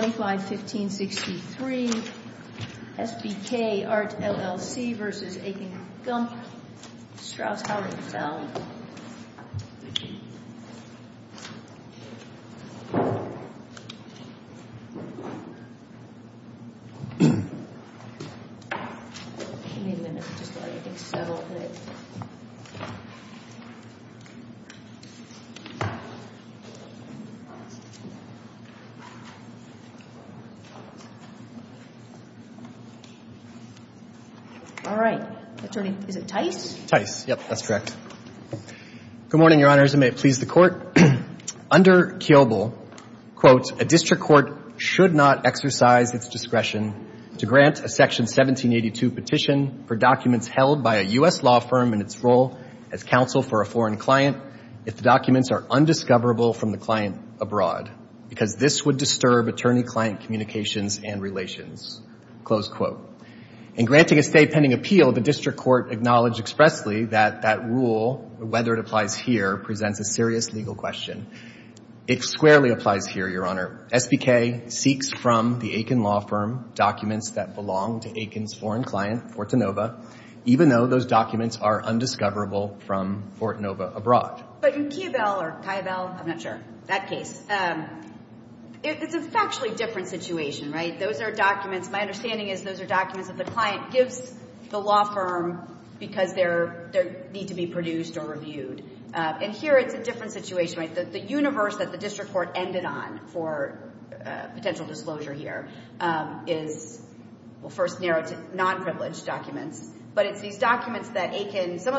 25-15-63 SBK ART LLC versus Aiken-Gump, Strauss-Houghton-Feld. All right. Attorney, is it Tice? Tice. Yep, that's correct. Good morning, Your Honor. As it may please the Court, under Kiobel, quote, a district court should not exercise its discretion to grant a Section 1782 petition for documents held by a U.S. law firm in its role as counsel for a foreign client if the documents are undiscoverable from the client abroad because this would disturb attorney-client communications and relations, close quote. In granting a stay pending appeal, the district court acknowledged expressly that that rule, whether it applies here, presents a serious legal question. It squarely applies here, Your Honor. SBK seeks from the Aiken law firm documents that belong to Aiken's foreign client, Fortinova, even though those documents are undiscoverable from Fortinova abroad. But in Kiobel or Kiobel, I'm not sure, that case, it's a factually different situation, right? Those are documents, my understanding is those are documents that the client gives the law firm because they need to be produced or reviewed. And here it's a different situation, right? The universe that the district court ended on for potential disclosure here is, we'll first narrow it to non-privileged documents, but it's these documents that Aiken, some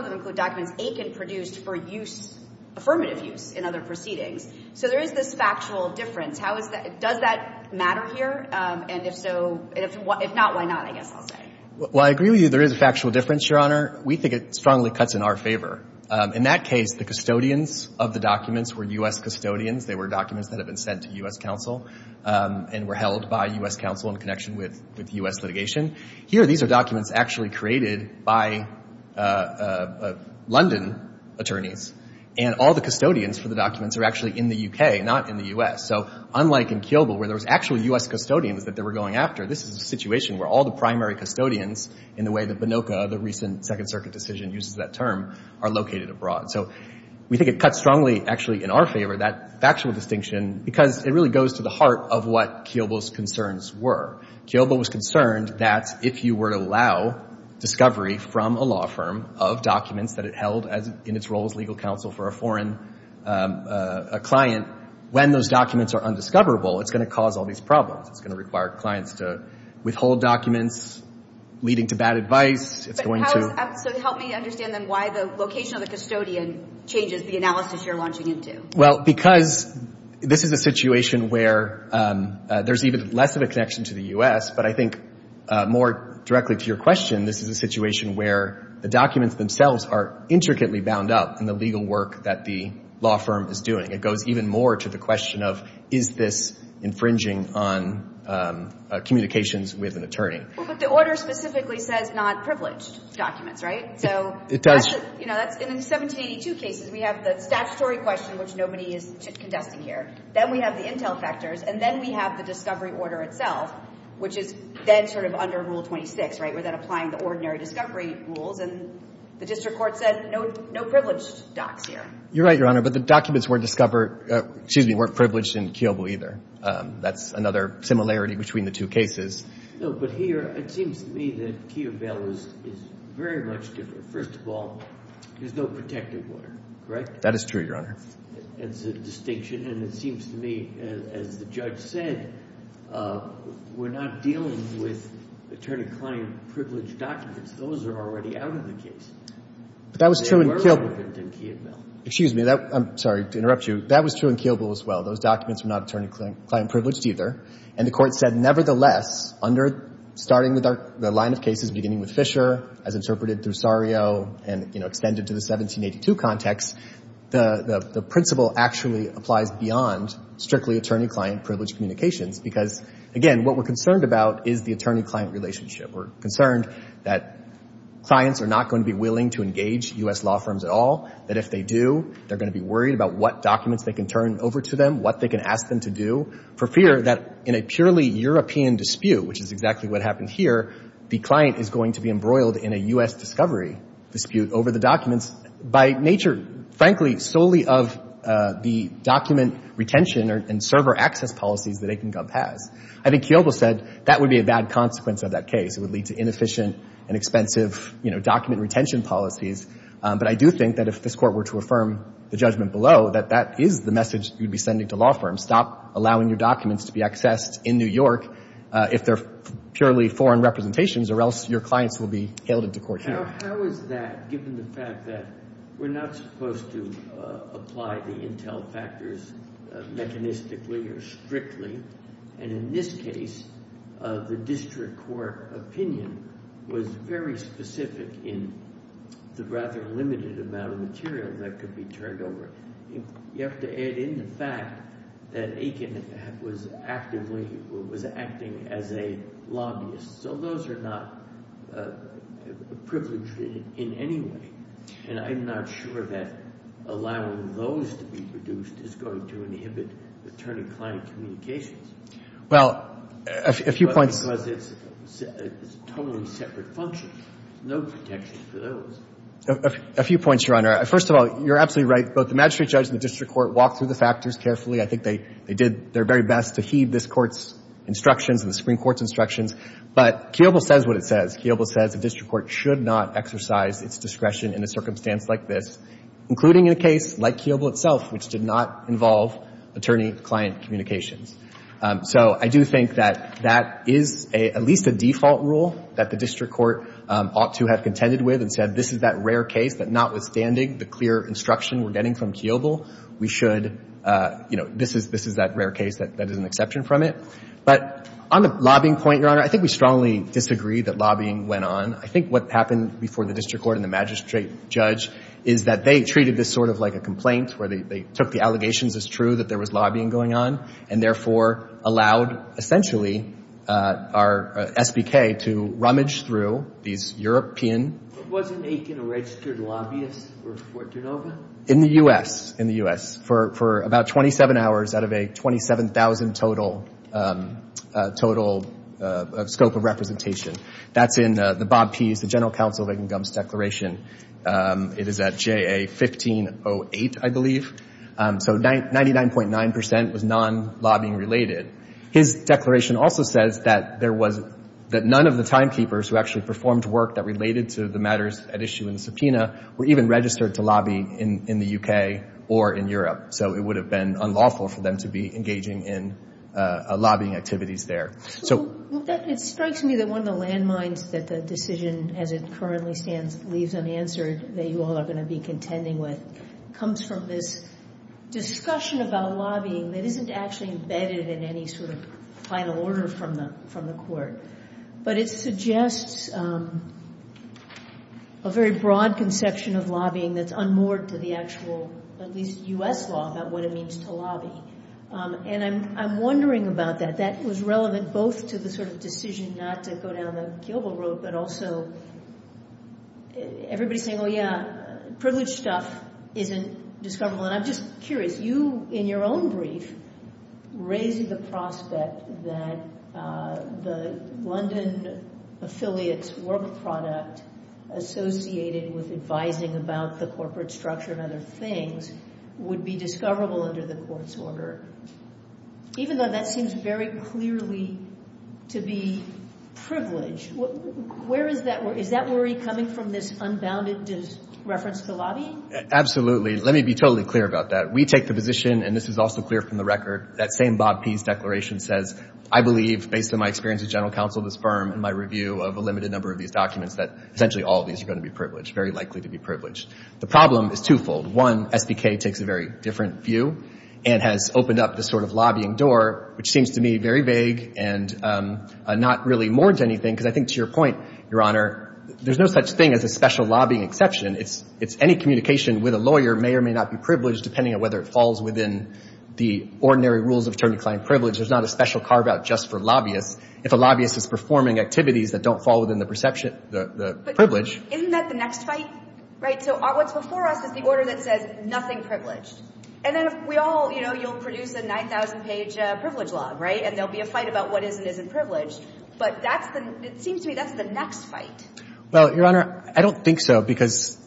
in other proceedings. So there is this factual difference. How is that, does that matter here? And if so, if not, why not, I guess I'll say. Well, I agree with you there is a factual difference, Your Honor. We think it strongly cuts in our favor. In that case, the custodians of the documents were U.S. custodians. They were documents that have been sent to U.S. counsel and were held by U.S. counsel in connection with U.S. litigation. Here, these are documents actually created by London attorneys, and all the custodians for the documents are actually in the U.K., not in the U.S. So unlike in Kiobel, where there was actually U.S. custodians that they were going after, this is a situation where all the primary custodians in the way that Banoka, the recent Second Circuit decision, uses that term, are located abroad. So we think it cuts strongly, actually, in our favor, that factual distinction, because it really goes to the heart of what Kiobel's concerns were. Kiobel was concerned that if you were to allow discovery from a law firm of documents that it held in its role as legal counsel for a foreign client, when those documents are undiscoverable, it's going to cause all these problems. It's going to require clients to withhold documents, leading to bad advice. It's going to— But how—so help me understand, then, why the location of the custodian changes the analysis you're launching into. Well, because this is a situation where there's even less of a connection to the U.S., but I think more directly to your question, this is a situation where the documents themselves are intricately bound up in the legal work that the law firm is doing. It goes even more to the question of, is this infringing on communications with an attorney? Well, but the order specifically says not privileged documents, right? So that's— In these two cases, we have the statutory question, which nobody is contesting here. Then we have the intel factors, and then we have the discovery order itself, which is then sort of under Rule 26, right, where they're applying the ordinary discovery rules, and the district court said no privileged docs here. You're right, Your Honor, but the documents were discovered—excuse me, weren't privileged in Kiobel either. That's another similarity between the two cases. No, but here, it seems to me that Kiobel is very much different. First of all, there's no protective order, correct? That is true, Your Honor. It's a distinction, and it seems to me, as the judge said, we're not dealing with attorney-client privileged documents. Those are already out of the case. But that was true in Kiobel. They were relevant in Kiobel. Excuse me. I'm sorry to interrupt you. That was true in Kiobel as well. Those documents were not attorney-client privileged either, and the Court said, nevertheless, under—starting with the line of cases beginning with Fisher, as interpreted through Sario, and, you know, extended to the 1782 context, the principle actually applies beyond strictly attorney-client privileged communications, because, again, what we're concerned about is the attorney-client relationship. We're concerned that clients are not going to be willing to engage U.S. law firms at all, that if they do, they're going to be worried about what documents they can turn over to them, what they can ask them to do, for fear that in a purely European dispute, which is exactly what happened here, the client is going to be embroiled in a U.S. discovery dispute over the documents, by nature, frankly, solely of the document retention and server access policies that AikenGov has. I think Kiobel said that would be a bad consequence of that case. It would lead to inefficient and expensive, you know, document retention policies. But I do think that if this Court were to affirm the judgment below, that that is the message you'd be sending to law firms, stop allowing your documents to be accessed in New York if they're purely foreign representations, or else your clients will be hailed into court here. How is that, given the fact that we're not supposed to apply the intel factors mechanistically or strictly, and in this case, the district court opinion was very specific in the rather limited amount of material that could be turned over? You have to add in the fact that Aiken was actively, was acting as a lobbyist. So those are not privileged in any way. And I'm not sure that allowing those to be produced is going to inhibit attorney-client communications. Well, a few points. Because it's a totally separate function. There's no protection for those. A few points, Your Honor. First of all, you're absolutely right. Both the magistrate judge and the district court walked through the factors carefully. I think they did their very best to heed this Court's instructions and the Supreme Court's But Kiobel says what it says. Kiobel says the district court should not exercise its discretion in a circumstance like this, including in a case like Kiobel itself, which did not involve attorney-client communications. So I do think that that is at least a default rule that the district court ought to have contended with and said this is that rare case that notwithstanding the clear instruction we're getting from Kiobel, we should, you know, this is that rare case that is an exception from it. But on the lobbying point, Your Honor, I think we strongly disagree that lobbying went on. I think what happened before the district court and the magistrate judge is that they treated this sort of like a complaint where they took the allegations as true that there was lobbying going on and therefore allowed essentially our SBK to rummage through these European Wasn't Aiken a registered lobbyist for Fortunova? In the U.S. In the U.S. For about 27 hours out of a 27,000 total scope of representation. That's in the Bob Pease, the general counsel of Aiken Gump's declaration. It is at J.A. 1508, I believe. So 99.9 percent was non-lobbying related. His declaration also says that there was, that none of the timekeepers who actually performed work that related to the matters at issue in the subpoena were even registered to lobby in the U.K. or in Europe. So it would have been unlawful for them to be engaging in lobbying activities there. Well, it strikes me that one of the landmines that the decision as it currently stands leaves unanswered that you all are going to be contending with comes from this discussion about lobbying that isn't actually embedded in any sort of final order from the court. But it suggests a very broad conception of lobbying that's unmoored to the actual, at least U.S. law, about what it means to lobby. And I'm wondering about that. That was relevant both to the sort of decision not to go down the guillotine road, but also everybody saying, oh, yeah, privileged stuff isn't discoverable. And I'm just curious. You, in your own brief, raise the prospect that the London affiliate's work product associated with advising about the corporate structure and other things would be discoverable under the court's order, even though that seems very clearly to be privileged. Is that worry coming from this unbounded reference to lobbying? Absolutely. Let me be totally clear about that. We take the position, and this is also clear from the record, that same Bob Pease declaration says, I believe, based on my experience as general counsel of this firm and my review of a limited number of these documents, that essentially all of these are going to be privileged, very likely to be privileged. The problem is twofold. One, SBK takes a very different view and has opened up this sort of lobbying door, which seems to me very vague and not really more than anything, because I think to your point, Your Honor, there's no such thing as a special lobbying exception. It's any communication with a lawyer may or may not be privileged, depending on whether it falls within the ordinary rules of term-declined privilege. There's not a special carve-out just for lobbyists. If a lobbyist is performing activities that don't fall within the perception, the privilege. But isn't that the next fight? Right? So what's before us is the order that says nothing privileged. And then we all, you know, you'll produce a 9,000-page privilege law, right? And there will be a fight about what is and isn't privileged. But that's the next fight. Well, Your Honor, I don't think so, because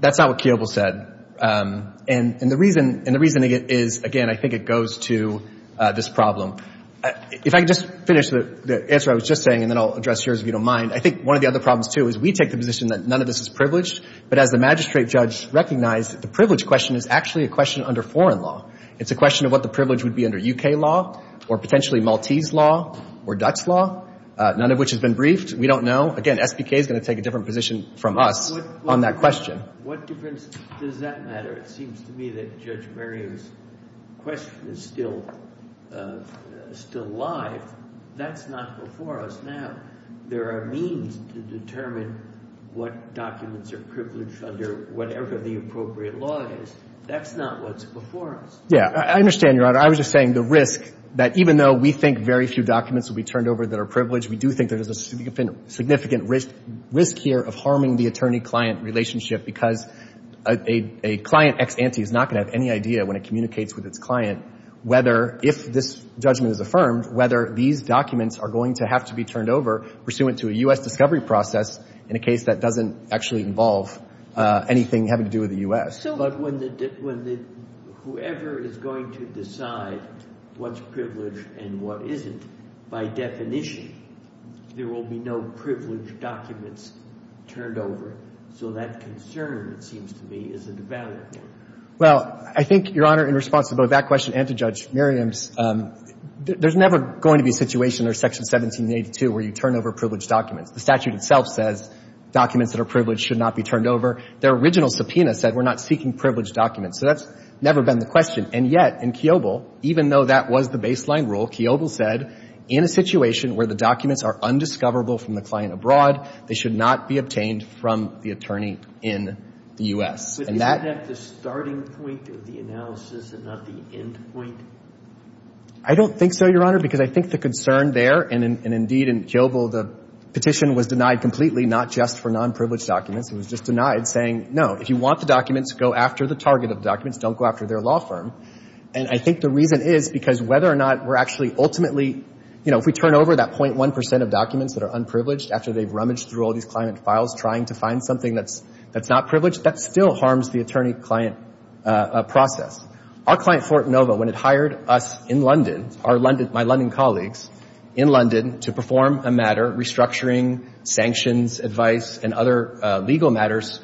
that's not what Kiobel said. And the reason is, again, I think it goes to this problem. If I could just finish the answer I was just saying, and then I'll address yours if you don't mind. I think one of the other problems, too, is we take the position that none of this is privileged. But as the magistrate judge recognized, the privilege question is actually a question under foreign law. It's a question of what the privilege would be under U.K. law or potentially Maltese law or Dutch law, none of which has been briefed. We don't know. Again, SBK is going to take a different position from us on that question. What difference does that matter? It seems to me that Judge Marion's question is still live. That's not before us now. There are means to determine what documents are privileged under whatever the appropriate law is. That's not what's before us. Yeah. I understand, Your Honor. I was just saying the risk that even though we think very few documents will be turned over that are privileged, we do think there is a significant risk here of harming the attorney-client relationship because a client ex ante is not going to have any idea when it communicates with its client whether, if this judgment is affirmed, whether these documents are going to have to be turned over pursuant to a U.S. discovery process in a case that doesn't actually involve anything having to do with the U.S. But when the — whoever is going to decide what's privileged and what isn't, by definition, there will be no privileged documents turned over. So that concern, it seems to me, is a devalued one. Well, I think, Your Honor, in response to both that question and to Judge Merriam's, there's never going to be a situation under Section 1782 where you turn over privileged documents. The statute itself says documents that are privileged should not be turned over. Their original subpoena said we're not seeking privileged documents. So that's never been the question. And yet in Kiobel, even though that was the baseline rule, Kiobel said in a situation where the documents are undiscoverable from the client abroad, they should not be obtained from the attorney in the U.S. But isn't that the starting point of the analysis and not the end point? I don't think so, Your Honor, because I think the concern there, and indeed in Kiobel, the petition was denied completely, not just for nonprivileged documents. It was just denied saying, no, if you want the documents, go after the target of documents. Don't go after their law firm. And I think the reason is because whether or not we're actually ultimately, you know, if we turn over that 0.1 percent of documents that are unprivileged after they've rummaged through all these client files trying to find something that's not privileged, that still harms the attorney-client process. Our client, Fort Nova, when it hired us in London, my London colleagues in London, to perform a matter restructuring sanctions advice and other legal matters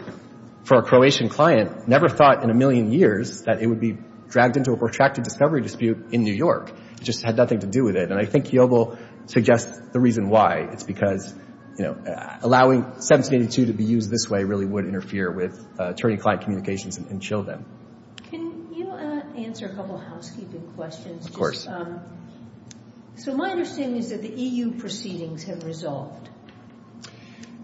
for a Croatian client, never thought in a million years that it would be dragged into a protracted discovery dispute in New York. It just had nothing to do with it. And I think Kiobel suggests the reason why. It's because, you know, allowing 1782 to be used this way really would interfere with attorney-client communications and chill them. Can you answer a couple of housekeeping questions? Of course. So my understanding is that the EU proceedings have resolved.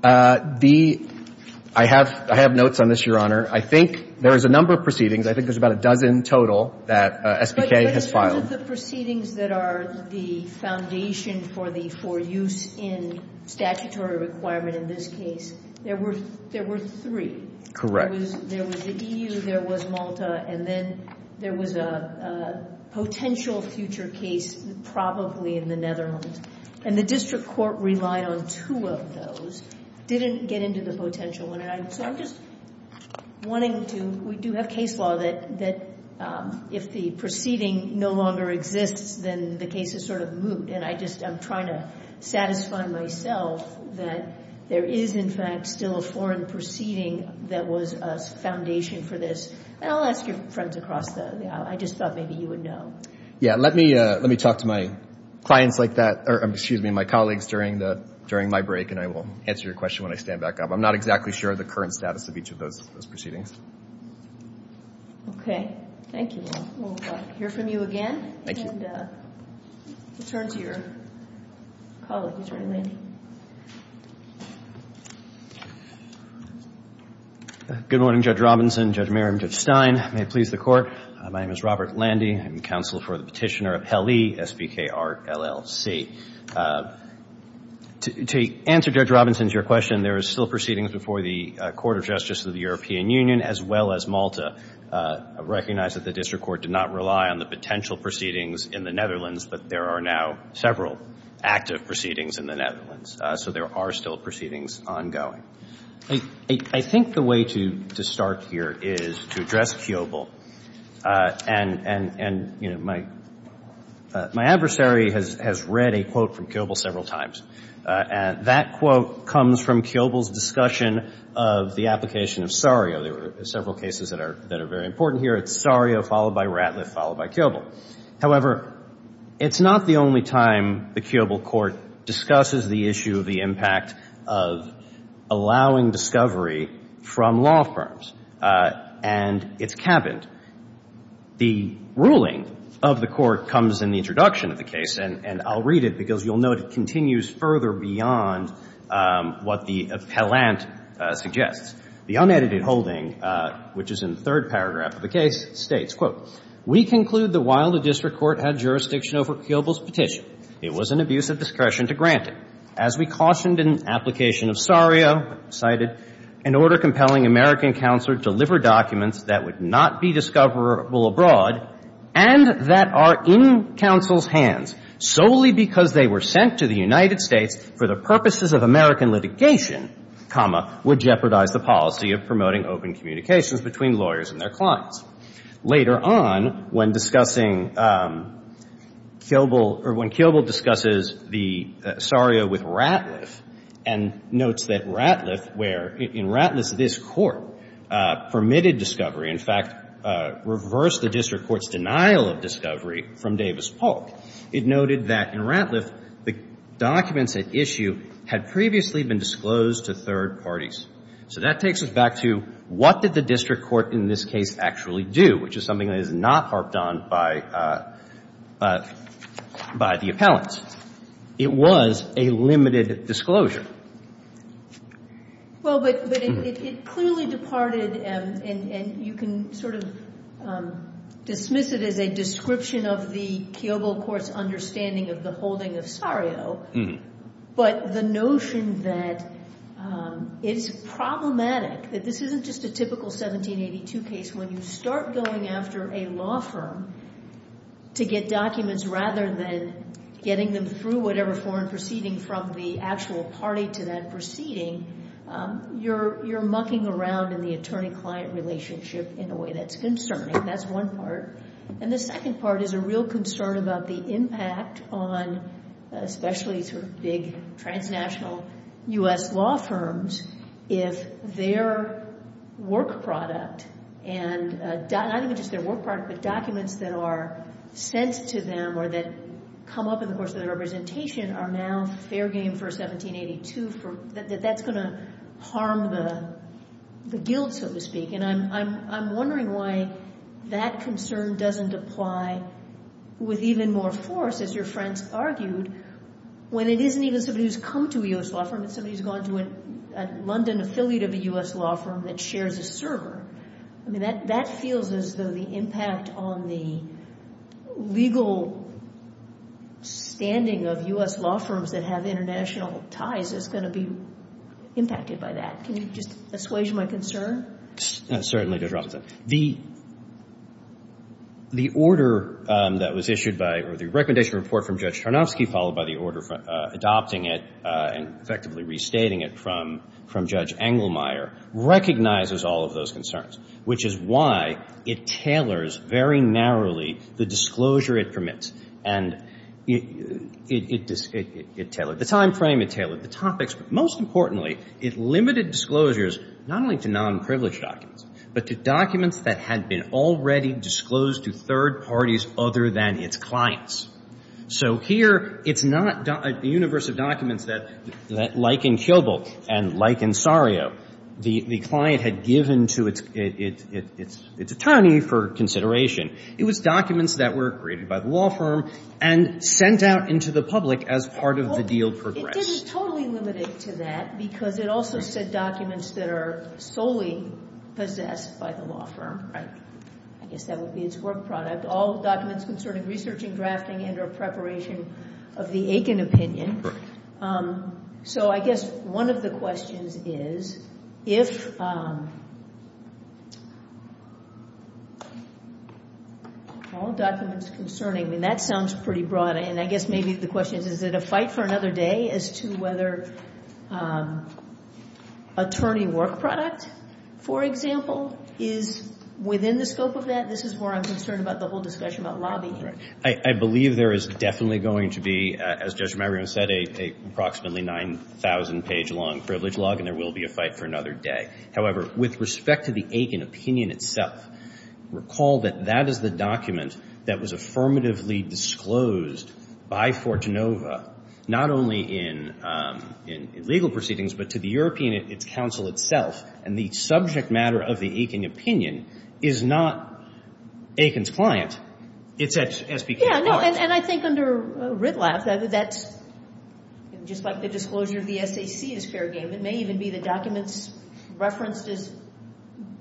The – I have notes on this, Your Honor. I think there is a number of proceedings. I think there's about a dozen total that SPK has filed. But in terms of the proceedings that are the foundation for the – for use in statutory requirement in this case, there were three. Correct. There was the EU, there was Malta, and then there was a potential future case probably in the Netherlands. And the district court relied on two of those, didn't get into the potential one. And so I'm just wanting to – we do have case law that if the proceeding no longer exists, then the case is sort of moot. And I just – I'm trying to satisfy myself that there is, in fact, still a foreign proceeding that was a foundation for this. And I'll ask your friends across the – I just thought maybe you would know. Yeah. Let me talk to my clients like that – or excuse me, my colleagues during my break, and I will answer your question when I stand back up. I'm not exactly sure of the current status of each of those proceedings. Okay. Thank you. We'll hear from you again. Thank you. And we'll turn to your colleague, Attorney Landy. Good morning, Judge Robinson, Judge Merriam, Judge Stein. May it please the Court. My name is Robert Landy. I'm counsel for the petitioner of HELE, S-B-K-R-L-L-C. To answer Judge Robinson's – your question, there is still proceedings before the Court of Justice of the European Union as well as Malta. I recognize that the district court did not rely on the potential proceedings in the Netherlands, but there are now several active proceedings in the Netherlands. So there are still proceedings ongoing. I think the way to start here is to address Kiobel. And, you know, my adversary has read a quote from Kiobel several times. And that quote comes from Kiobel's discussion of the application of Sario. There are several cases that are very important here. It's Sario followed by Ratliff followed by Kiobel. However, it's not the only time the Kiobel court discusses the issue of the impact of allowing discovery from law firms. And it's happened. The ruling of the court comes in the introduction of the case, and I'll read it because you'll note it continues further beyond what the appellant suggests. The unedited holding, which is in the third paragraph of the case, states, quote, We conclude that while the district court had jurisdiction over Kiobel's petition, it was an abuse of discretion to grant it. As we cautioned in application of Sario, cited, an order compelling American counsel to deliver documents that would not be discoverable abroad and that are in counsel's hands solely because they were sent to the United States for the purposes of American litigation, comma, would jeopardize the policy of promoting open communications between lawyers and their clients. Later on, when discussing Kiobel or when Kiobel discusses the Sario with Ratliff and notes that Ratliff, where in Ratliff this Court permitted discovery, in fact reversed the district court's denial of discovery from Davis-Polk, it noted that in Ratliff the documents at issue had previously been disclosed to third parties. So that takes us back to what did the district court in this case actually do, which is something that is not harped on by the appellants. It was a limited disclosure. Well, but it clearly departed, and you can sort of dismiss it as a description of the Kiobel court's understanding of the holding of Sario. But the notion that it's problematic, that this isn't just a typical 1782 case. When you start going after a law firm to get documents rather than getting them through whatever foreign proceeding from the actual party to that proceeding, you're mucking around in the attorney-client relationship in a way that's concerning. That's one part. And the second part is a real concern about the impact on especially sort of big transnational U.S. law firms if their work product and not even just their work product but documents that are sent to them or that come up in the course of their representation are now fair game for 1782. That's going to harm the guild, so to speak. And I'm wondering why that concern doesn't apply with even more force, as your friends argued, when it isn't even somebody who's come to a U.S. law firm. It's somebody who's gone to a London affiliate of a U.S. law firm that shares a server. I mean, that feels as though the impact on the legal standing of U.S. law firms that have international ties is going to be impacted by that. Can you just assuage my concern? Certainly, Judge Robinson. The order that was issued by or the recommendation report from Judge Tarnowski followed by the order adopting it and effectively restating it from Judge Engelmeyer recognizes all of those concerns, which is why it tailors very narrowly the disclosure it permits. And it tailored the time frame. It tailored the topics. Most importantly, it limited disclosures not only to nonprivileged documents, but to documents that had been already disclosed to third parties other than its clients. So here, it's not a universe of documents that, like in Kyobel and like in Sario, the client had given to its attorney for consideration. It was documents that were created by the law firm and sent out into the public as part of the deal progress. But it didn't totally limit it to that because it also said documents that are solely possessed by the law firm. I guess that would be its work product. All documents concerning research and drafting and or preparation of the Aiken opinion. So I guess one of the questions is, if all documents concerning, and that sounds pretty broad, and I guess maybe the question is, is it a fight for another day as to whether attorney work product, for example, is within the scope of that? This is where I'm concerned about the whole discussion about lobbying. I believe there is definitely going to be, as Judge Mariam said, a approximately 9,000-page-long privilege log, and there will be a fight for another day. However, with respect to the Aiken opinion itself, recall that that is the document that was affirmatively disclosed by Fortinova, not only in legal proceedings, but to the European Council itself. And the subject matter of the Aiken opinion is not Aiken's client. It's at SPK's college. Yeah, and I think under Riddlaff, that's just like the disclosure of the SAC is fair game. It may even be the documents referenced as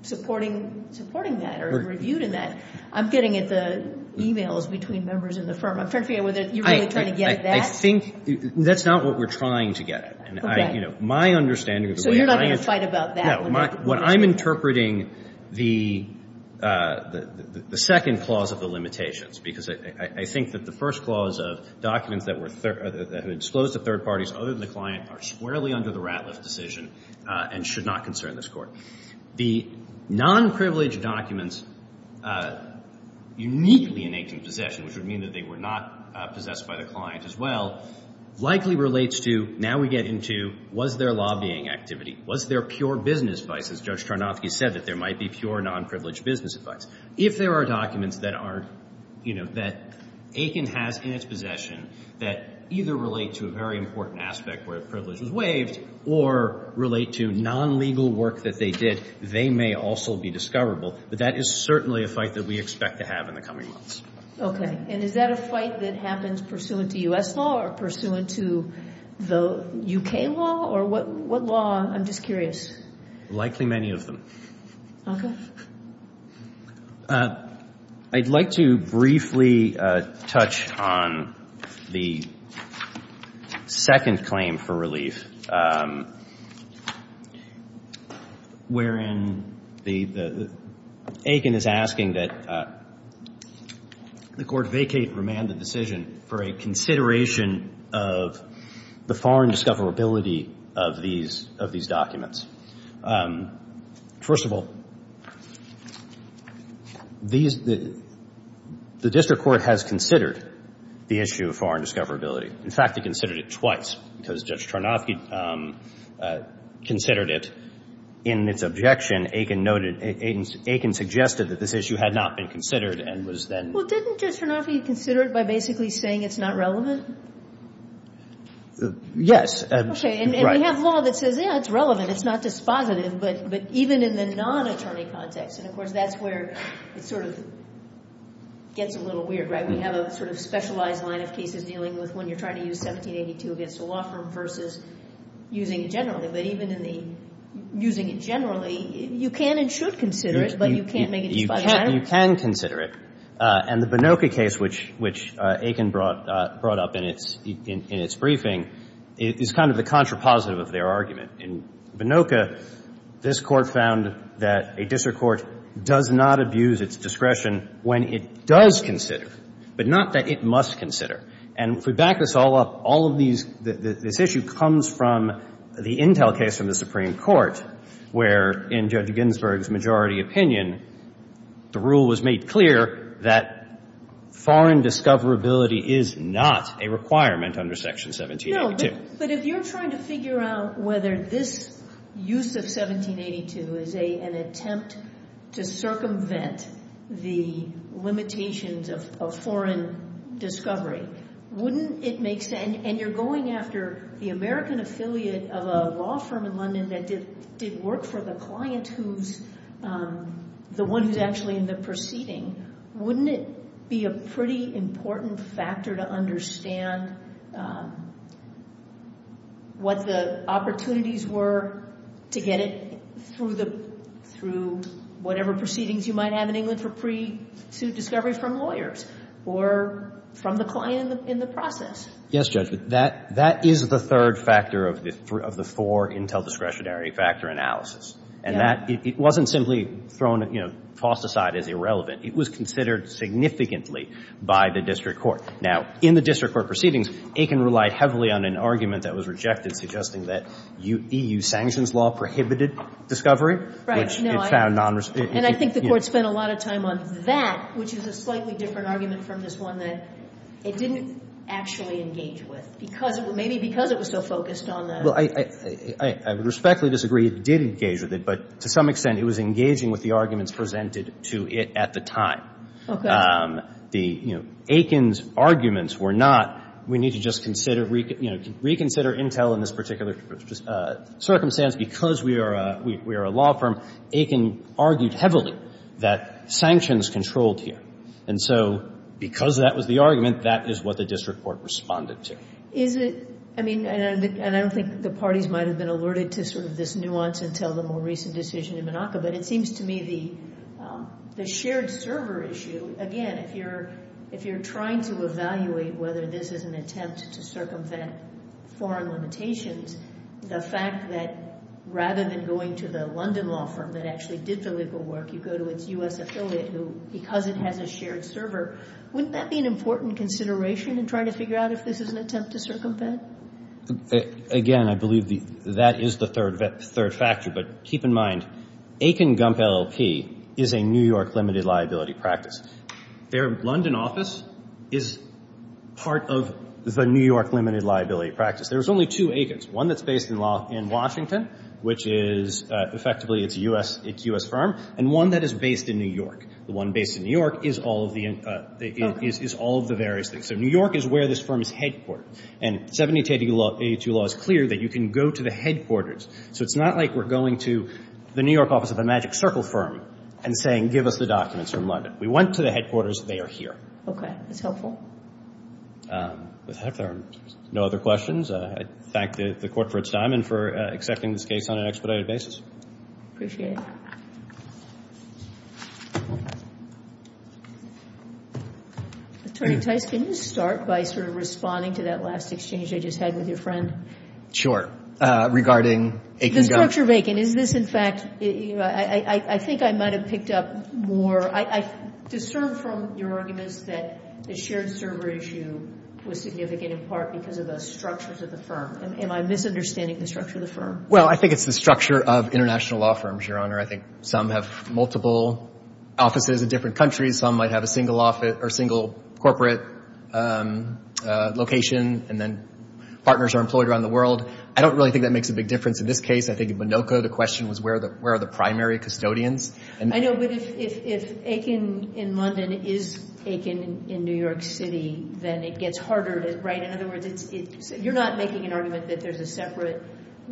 supporting that or reviewed in that. I'm getting at the e-mails between members in the firm. I'm trying to figure out whether you're really trying to get at that. I think that's not what we're trying to get at. Okay. My understanding of the way I interpret— So you're not going to fight about that? No. What I'm interpreting, the second clause of the limitations, because I think that the first clause of documents that were— that disclosed to third parties other than the client are squarely under the Ratliff decision and should not concern this Court. The nonprivileged documents uniquely in Aiken's possession, which would mean that they were not possessed by the client as well, likely relates to, now we get into, was there lobbying activity? Was there pure business advice, as Judge Tarnofsky said, that there might be pure nonprivileged business advice? If there are documents that are, you know, that Aiken has in its possession that either relate to a very important aspect where a privilege was waived or relate to nonlegal work that they did, they may also be discoverable. But that is certainly a fight that we expect to have in the coming months. Okay. And is that a fight that happens pursuant to U.S. law or pursuant to the U.K. law? Or what law? I'm just curious. Likely many of them. Okay. I'd like to briefly touch on the second claim for relief, wherein Aiken is asking that the Court vacate remanded decision for a consideration of the foreign discoverability of these documents. First of all, the District Court has considered the issue of foreign discoverability. In fact, they considered it twice, because Judge Tarnofsky considered it. In its objection, Aiken noted, Aiken suggested that this issue had not been considered and was then. Well, didn't Judge Tarnofsky consider it by basically saying it's not relevant? Yes. Okay. And we have law that says, yeah, it's relevant. It's not dispositive, but even in the non-attorney context, and of course that's where it sort of gets a little weird, right? We have a sort of specialized line of cases dealing with when you're trying to use 1782 against a law firm versus using it generally. But even in the using it generally, you can and should consider it, but you can't make it dispositive. You can consider it. And the Bonocca case, which Aiken brought up in its briefing, is kind of the contrapositive of their argument. In Bonocca, this Court found that a district court does not abuse its discretion when it does consider, but not that it must consider. And if we back this all up, all of these — this issue comes from the Intel case from the Supreme Court, where in Judge Ginsburg's majority opinion, the rule was made clear that foreign discoverability is not a requirement under Section 1782. No, but if you're trying to figure out whether this use of 1782 is an attempt to circumvent the limitations of foreign discovery, wouldn't it make sense? And you're going after the American affiliate of a law firm in London that did work for the client who's the one who's actually in the proceeding. Wouldn't it be a pretty important factor to understand what the opportunities were to get it through whatever proceedings you might have in England for pre-suit discovery from lawyers or from the client in the process? Yes, Judge. That is the third factor of the four Intel discretionary factor analysis. And that — it wasn't simply thrown — you know, tossed aside as irrelevant. It was considered significantly by the district court. Now, in the district court proceedings, Aiken relied heavily on an argument that was rejected, suggesting that EU sanctions law prohibited discovery. No, I — Which it found nonres — And I think the Court spent a lot of time on that, which is a slightly different argument from this one that it didn't actually engage with, because — maybe because it was so focused on the — Well, I would respectfully disagree. It did engage with it. But to some extent, it was engaging with the arguments presented to it at the time. The — you know, Aiken's arguments were not, we need to just consider — you know, reconsider Intel in this particular circumstance because we are a law firm. Aiken argued heavily that sanctions controlled here. And so because that was the argument, that is what the district court responded to. Is it — I mean, and I don't think the parties might have been alerted to sort of this nuance until the more recent decision in Monaco, but it seems to me the shared server issue — again, if you're trying to evaluate whether this is an attempt to circumvent foreign limitations, the fact that rather than going to the London law firm that actually did the legal work, you go to its U.S. affiliate who, because it has a shared server, wouldn't that be an important consideration in trying to figure out if this is an attempt to circumvent? Again, I believe that is the third factor. But keep in mind, Aiken Gump LLP is a New York limited liability practice. Their London office is part of the New York limited liability practice. There's only two Aikens, one that's based in Washington, which is effectively its U.S. firm, and one that is based in New York. The one based in New York is all of the various things. So New York is where this firm is headquartered. And 1782 law is clear that you can go to the headquarters. So it's not like we're going to the New York office of a magic circle firm and saying, give us the documents from London. We went to the headquarters. They are here. Okay. That's helpful. If there are no other questions, I thank the Court for its time and for accepting this case on an expedited basis. Appreciate it. Thank you. Attorney Tice, can you start by sort of responding to that last exchange I just had with your friend? Sure. Regarding Aiken Gump. The structure of Aiken. Is this, in fact, I think I might have picked up more. I discern from your arguments that the shared server issue was significant, in part because of the structures of the firm. Am I misunderstanding the structure of the firm? Well, I think it's the structure of international law firms, Your Honor. I think some have multiple offices in different countries. Some might have a single corporate location, and then partners are employed around the world. I don't really think that makes a big difference in this case. I think in Minoka the question was where are the primary custodians. I know, but if Aiken in London is Aiken in New York City, then it gets harder, right? In other words, you're not making an argument that there's a separate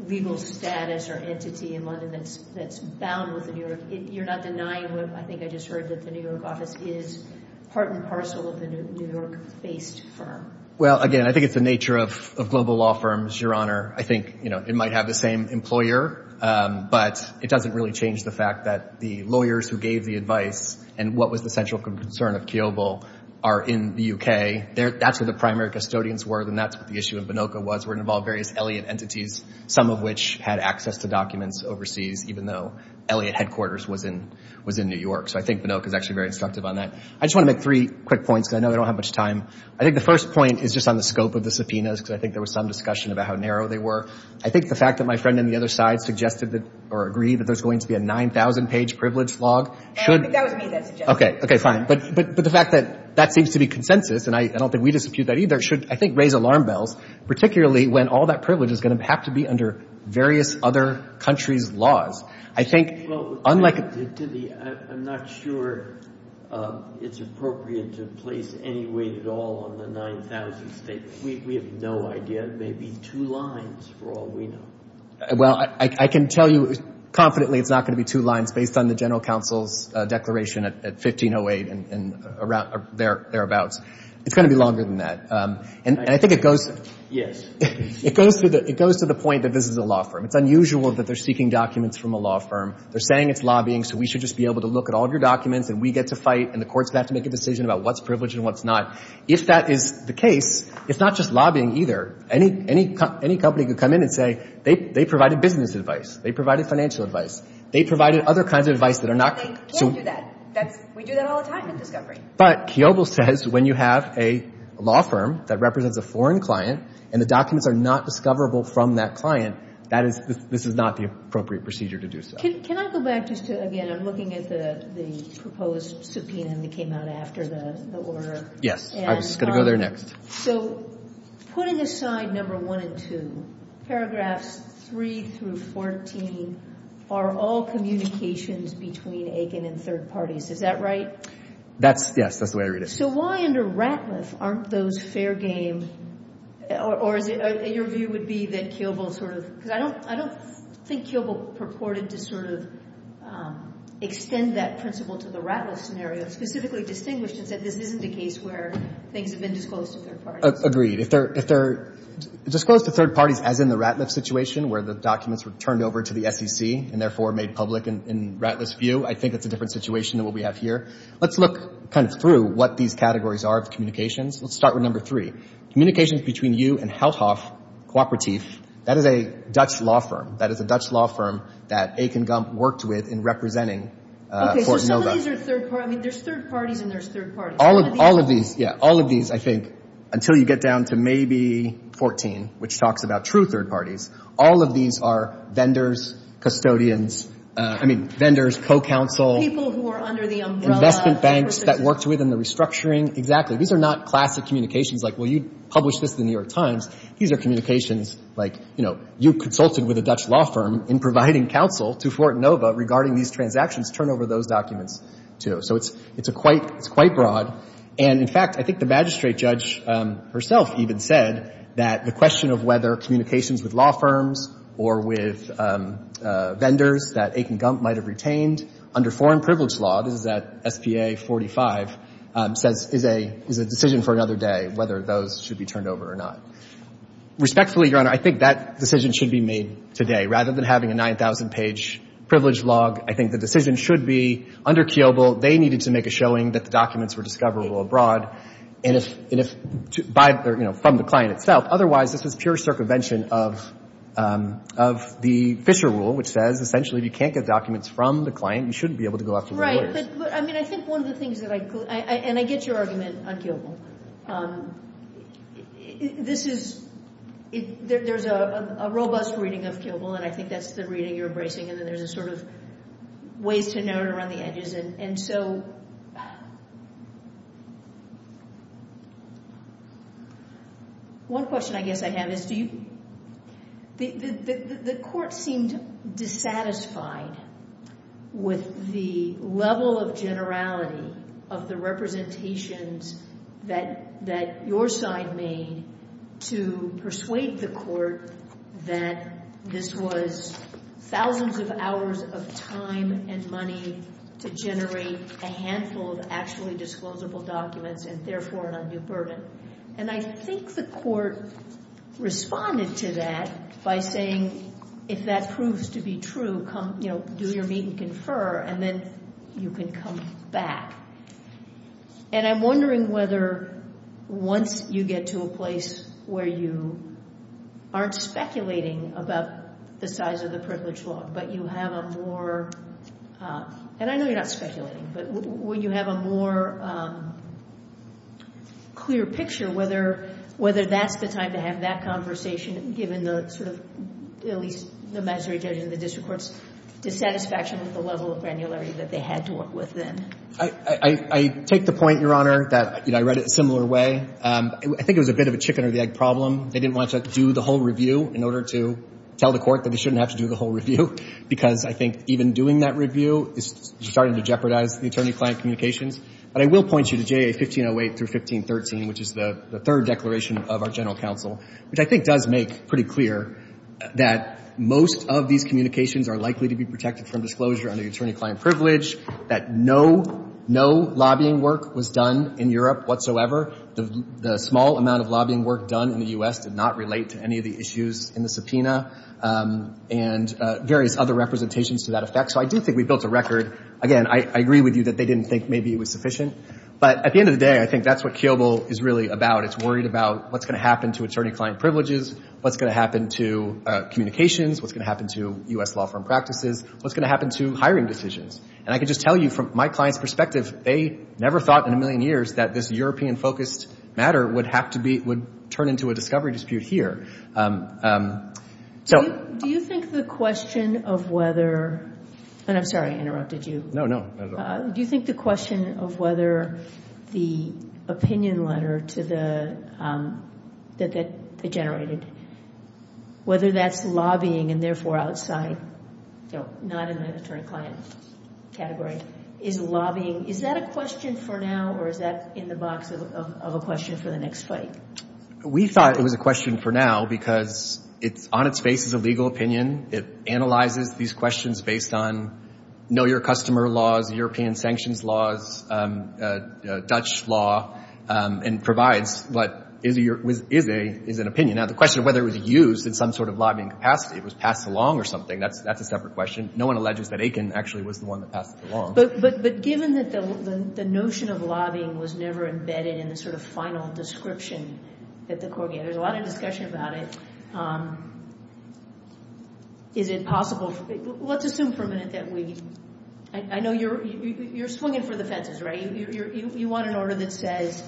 legal status or entity in London that's bound with New York. You're not denying what I think I just heard, that the New York office is part and parcel of the New York-based firm. Well, again, I think it's the nature of global law firms, Your Honor. I think it might have the same employer, but it doesn't really change the fact that the lawyers who gave the advice and what was the central concern of Kiobel are in the U.K. That's where the primary custodians were, and that's what the issue in Minoka was. It involved various Elliott entities, some of which had access to documents overseas, even though Elliott headquarters was in New York. So I think Minoka is actually very instructive on that. I just want to make three quick points because I know we don't have much time. I think the first point is just on the scope of the subpoenas because I think there was some discussion about how narrow they were. I think the fact that my friend on the other side suggested or agreed that there's going to be a 9,000-page privilege log should— I think that was me that suggested it. Okay, fine. But the fact that that seems to be consensus, and I don't think we dispute that either, should, I think, raise alarm bells, particularly when all that privilege is going to have to be under various other countries' laws. I think, unlike— I'm not sure it's appropriate to place any weight at all on the 9,000 states. We have no idea. It may be two lines for all we know. Well, I can tell you confidently it's not going to be two lines based on the General Counsel's declaration at 1508 and thereabouts. It's going to be longer than that. And I think it goes— It goes to the point that this is a law firm. It's unusual that they're seeking documents from a law firm. They're saying it's lobbying so we should just be able to look at all of your documents and we get to fight and the courts have to make a decision about what's privileged and what's not. If that is the case, it's not just lobbying either. Any company could come in and say they provided business advice. They provided financial advice. They provided other kinds of advice that are not— We don't do that. We do that all the time at Discovery. But Kiobel says when you have a law firm that represents a foreign client and the documents are not discoverable from that client, this is not the appropriate procedure to do so. Can I go back just to, again, I'm looking at the proposed subpoena that came out after the order. Yes. I was just going to go there next. So putting aside number 1 and 2, paragraphs 3 through 14 are all communications between Aiken and third parties. Is that right? Yes. That's the way I read it. So why under Ratliff aren't those fair game or your view would be that Kiobel sort of— because I don't think Kiobel purported to sort of extend that principle to the Ratliff scenario, specifically distinguished and said this isn't a case where things have been disclosed to third parties. Agreed. If they're disclosed to third parties as in the Ratliff situation where the documents were turned over to the SEC and therefore made public in Ratliff's view, I think that's a different situation than what we have here. Let's look kind of through what these categories are of communications. Let's start with number 3. Communications between you and Houthoff Cooperatief, that is a Dutch law firm. That is a Dutch law firm that Aiken Gump worked with in representing Fort Nova. Okay, so some of these are third parties. I mean, there's third parties and there's third parties. All of these, yeah, all of these, I think, until you get down to maybe 14, which talks about true third parties, all of these are vendors, custodians, I mean, vendors, co-counsel. People who are under the umbrella. Investment banks that worked with in the restructuring. These are not classic communications like, well, you published this in the New York Times. These are communications like, you know, you consulted with a Dutch law firm in providing counsel to Fort Nova regarding these transactions, turn over those documents to. So it's a quite, it's quite broad. And, in fact, I think the magistrate judge herself even said that the question of whether communications with law firms or with vendors that Aiken Gump might have retained under foreign privilege law, this is at SPA 45, says, is a decision for another day whether those should be turned over or not. Respectfully, Your Honor, I think that decision should be made today. Rather than having a 9,000-page privilege log, I think the decision should be under Kiobel, they needed to make a showing that the documents were discoverable abroad. And if, you know, from the client itself. Otherwise, this is pure circumvention of the Fisher rule, which says essentially if you can't get documents from the client, you shouldn't be able to go after the lawyers. But, I mean, I think one of the things that I, and I get your argument on Kiobel. This is, there's a robust reading of Kiobel, and I think that's the reading you're embracing. And then there's a sort of ways to note around the edges. And so, one question I guess I have is, the court seemed dissatisfied with the level of generality of the representations that your side made to persuade the court that this was thousands of hours of time and money to generate a handful of actually disclosable documents, and therefore an undue burden. And I think the court responded to that by saying, if that proves to be true, come, you know, do your meet and confer, and then you can come back. And I'm wondering whether once you get to a place where you aren't speculating about the size of the privilege log, but you have a more, and I know you're not speculating, but when you have a more clear picture, whether that's the time to have that conversation, given the sort of, at least the magistrate judge and the district court's dissatisfaction with the level of granularity that they had to work with then. I take the point, Your Honor, that, you know, I read it a similar way. I think it was a bit of a chicken or the egg problem. They didn't want to do the whole review in order to tell the court that they shouldn't have to do the whole review because I think even doing that review is starting to jeopardize the attorney-client communications. But I will point you to JA 1508 through 1513, which is the third declaration of our general counsel, which I think does make pretty clear that most of these communications are likely to be protected from disclosure under the attorney-client privilege, that no, no lobbying work was done in Europe whatsoever. The small amount of lobbying work done in the U.S. did not relate to any of the issues in the subpoena and various other representations to that effect. So I do think we built a record. Again, I agree with you that they didn't think maybe it was sufficient. But at the end of the day, I think that's what Kiobel is really about. It's worried about what's going to happen to attorney-client privileges, what's going to happen to communications, what's going to happen to U.S. law firm practices, what's going to happen to hiring decisions. And I can just tell you from my client's perspective, they never thought in a million years that this European-focused matter would turn into a discovery dispute here. So... Do you think the question of whether... And I'm sorry I interrupted you. No, no, not at all. Do you think the question of whether the opinion letter that they generated, whether that's lobbying and therefore outside, so not in the attorney-client category, is that a question for now or is that in the box of a question for the next fight? We thought it was a question for now because it's on its face as a legal opinion. It analyzes these questions based on know-your-customer laws, European sanctions laws, Dutch law, and provides what is an opinion. Now, the question of whether it was used in some sort of lobbying capacity, it was passed along or something, that's a separate question. No one alleges that Aiken actually was the one that passed it along. But given that the notion of lobbying was never embedded in the sort of final description that the court gave, there's a lot of discussion about it. Is it possible... Let's assume for a minute that we... I know you're swinging for the fences, right? You want an order that says,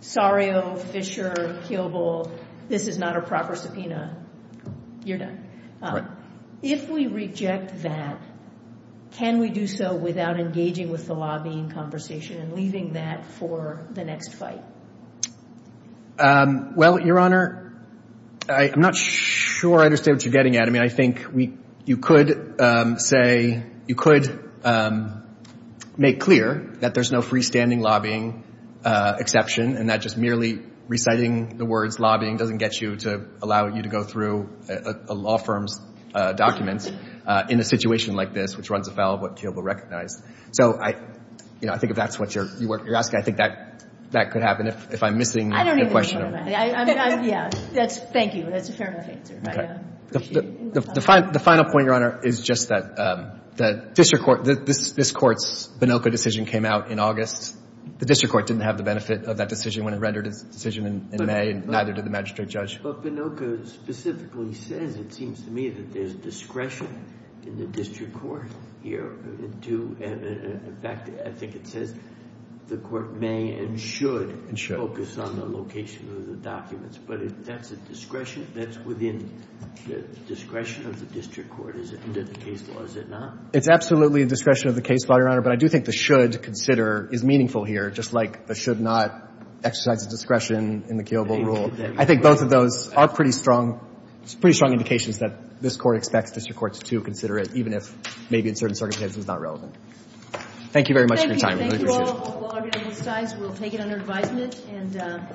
Sario, Fisher, Keeble, this is not a proper subpoena. You're done. If we reject that, can we do so without engaging with the lobbying conversation and leaving that for the next fight? Well, Your Honor, I'm not sure I understand what you're getting at. I mean, I think you could say, you could make clear that there's no freestanding lobbying exception and that just merely reciting the words lobbying doesn't get you to allow you to go through a law firm's documents in a situation like this, which runs afoul of what Keeble recognized. So I think if that's what you're asking, I think that could happen if I'm missing the question. I don't even know what I'm asking. Yeah. Thank you. That's a fair enough answer. I appreciate it. The final point, Your Honor, is just that this Court's Binocco decision came out in August. The district court didn't have the benefit of that decision when it rendered its decision in May, and neither did the magistrate judge. But Binocco specifically says, it seems to me, that there's discretion in the district court here. In fact, I think it says, the court may and should focus on the location of the documents. But that's within the discretion of the district court. Is it not? It's absolutely the discretion of the case, Your Honor. But I do think the should consider is meaningful here, just like the should not exercise the discretion in the Keeble rule. I think both of those are pretty strong indications that this Court expects district courts to consider it, even if maybe in certain circumstances it's not relevant. Thank you very much for your time. Thank you. Thank you all. We'll take it under advisement.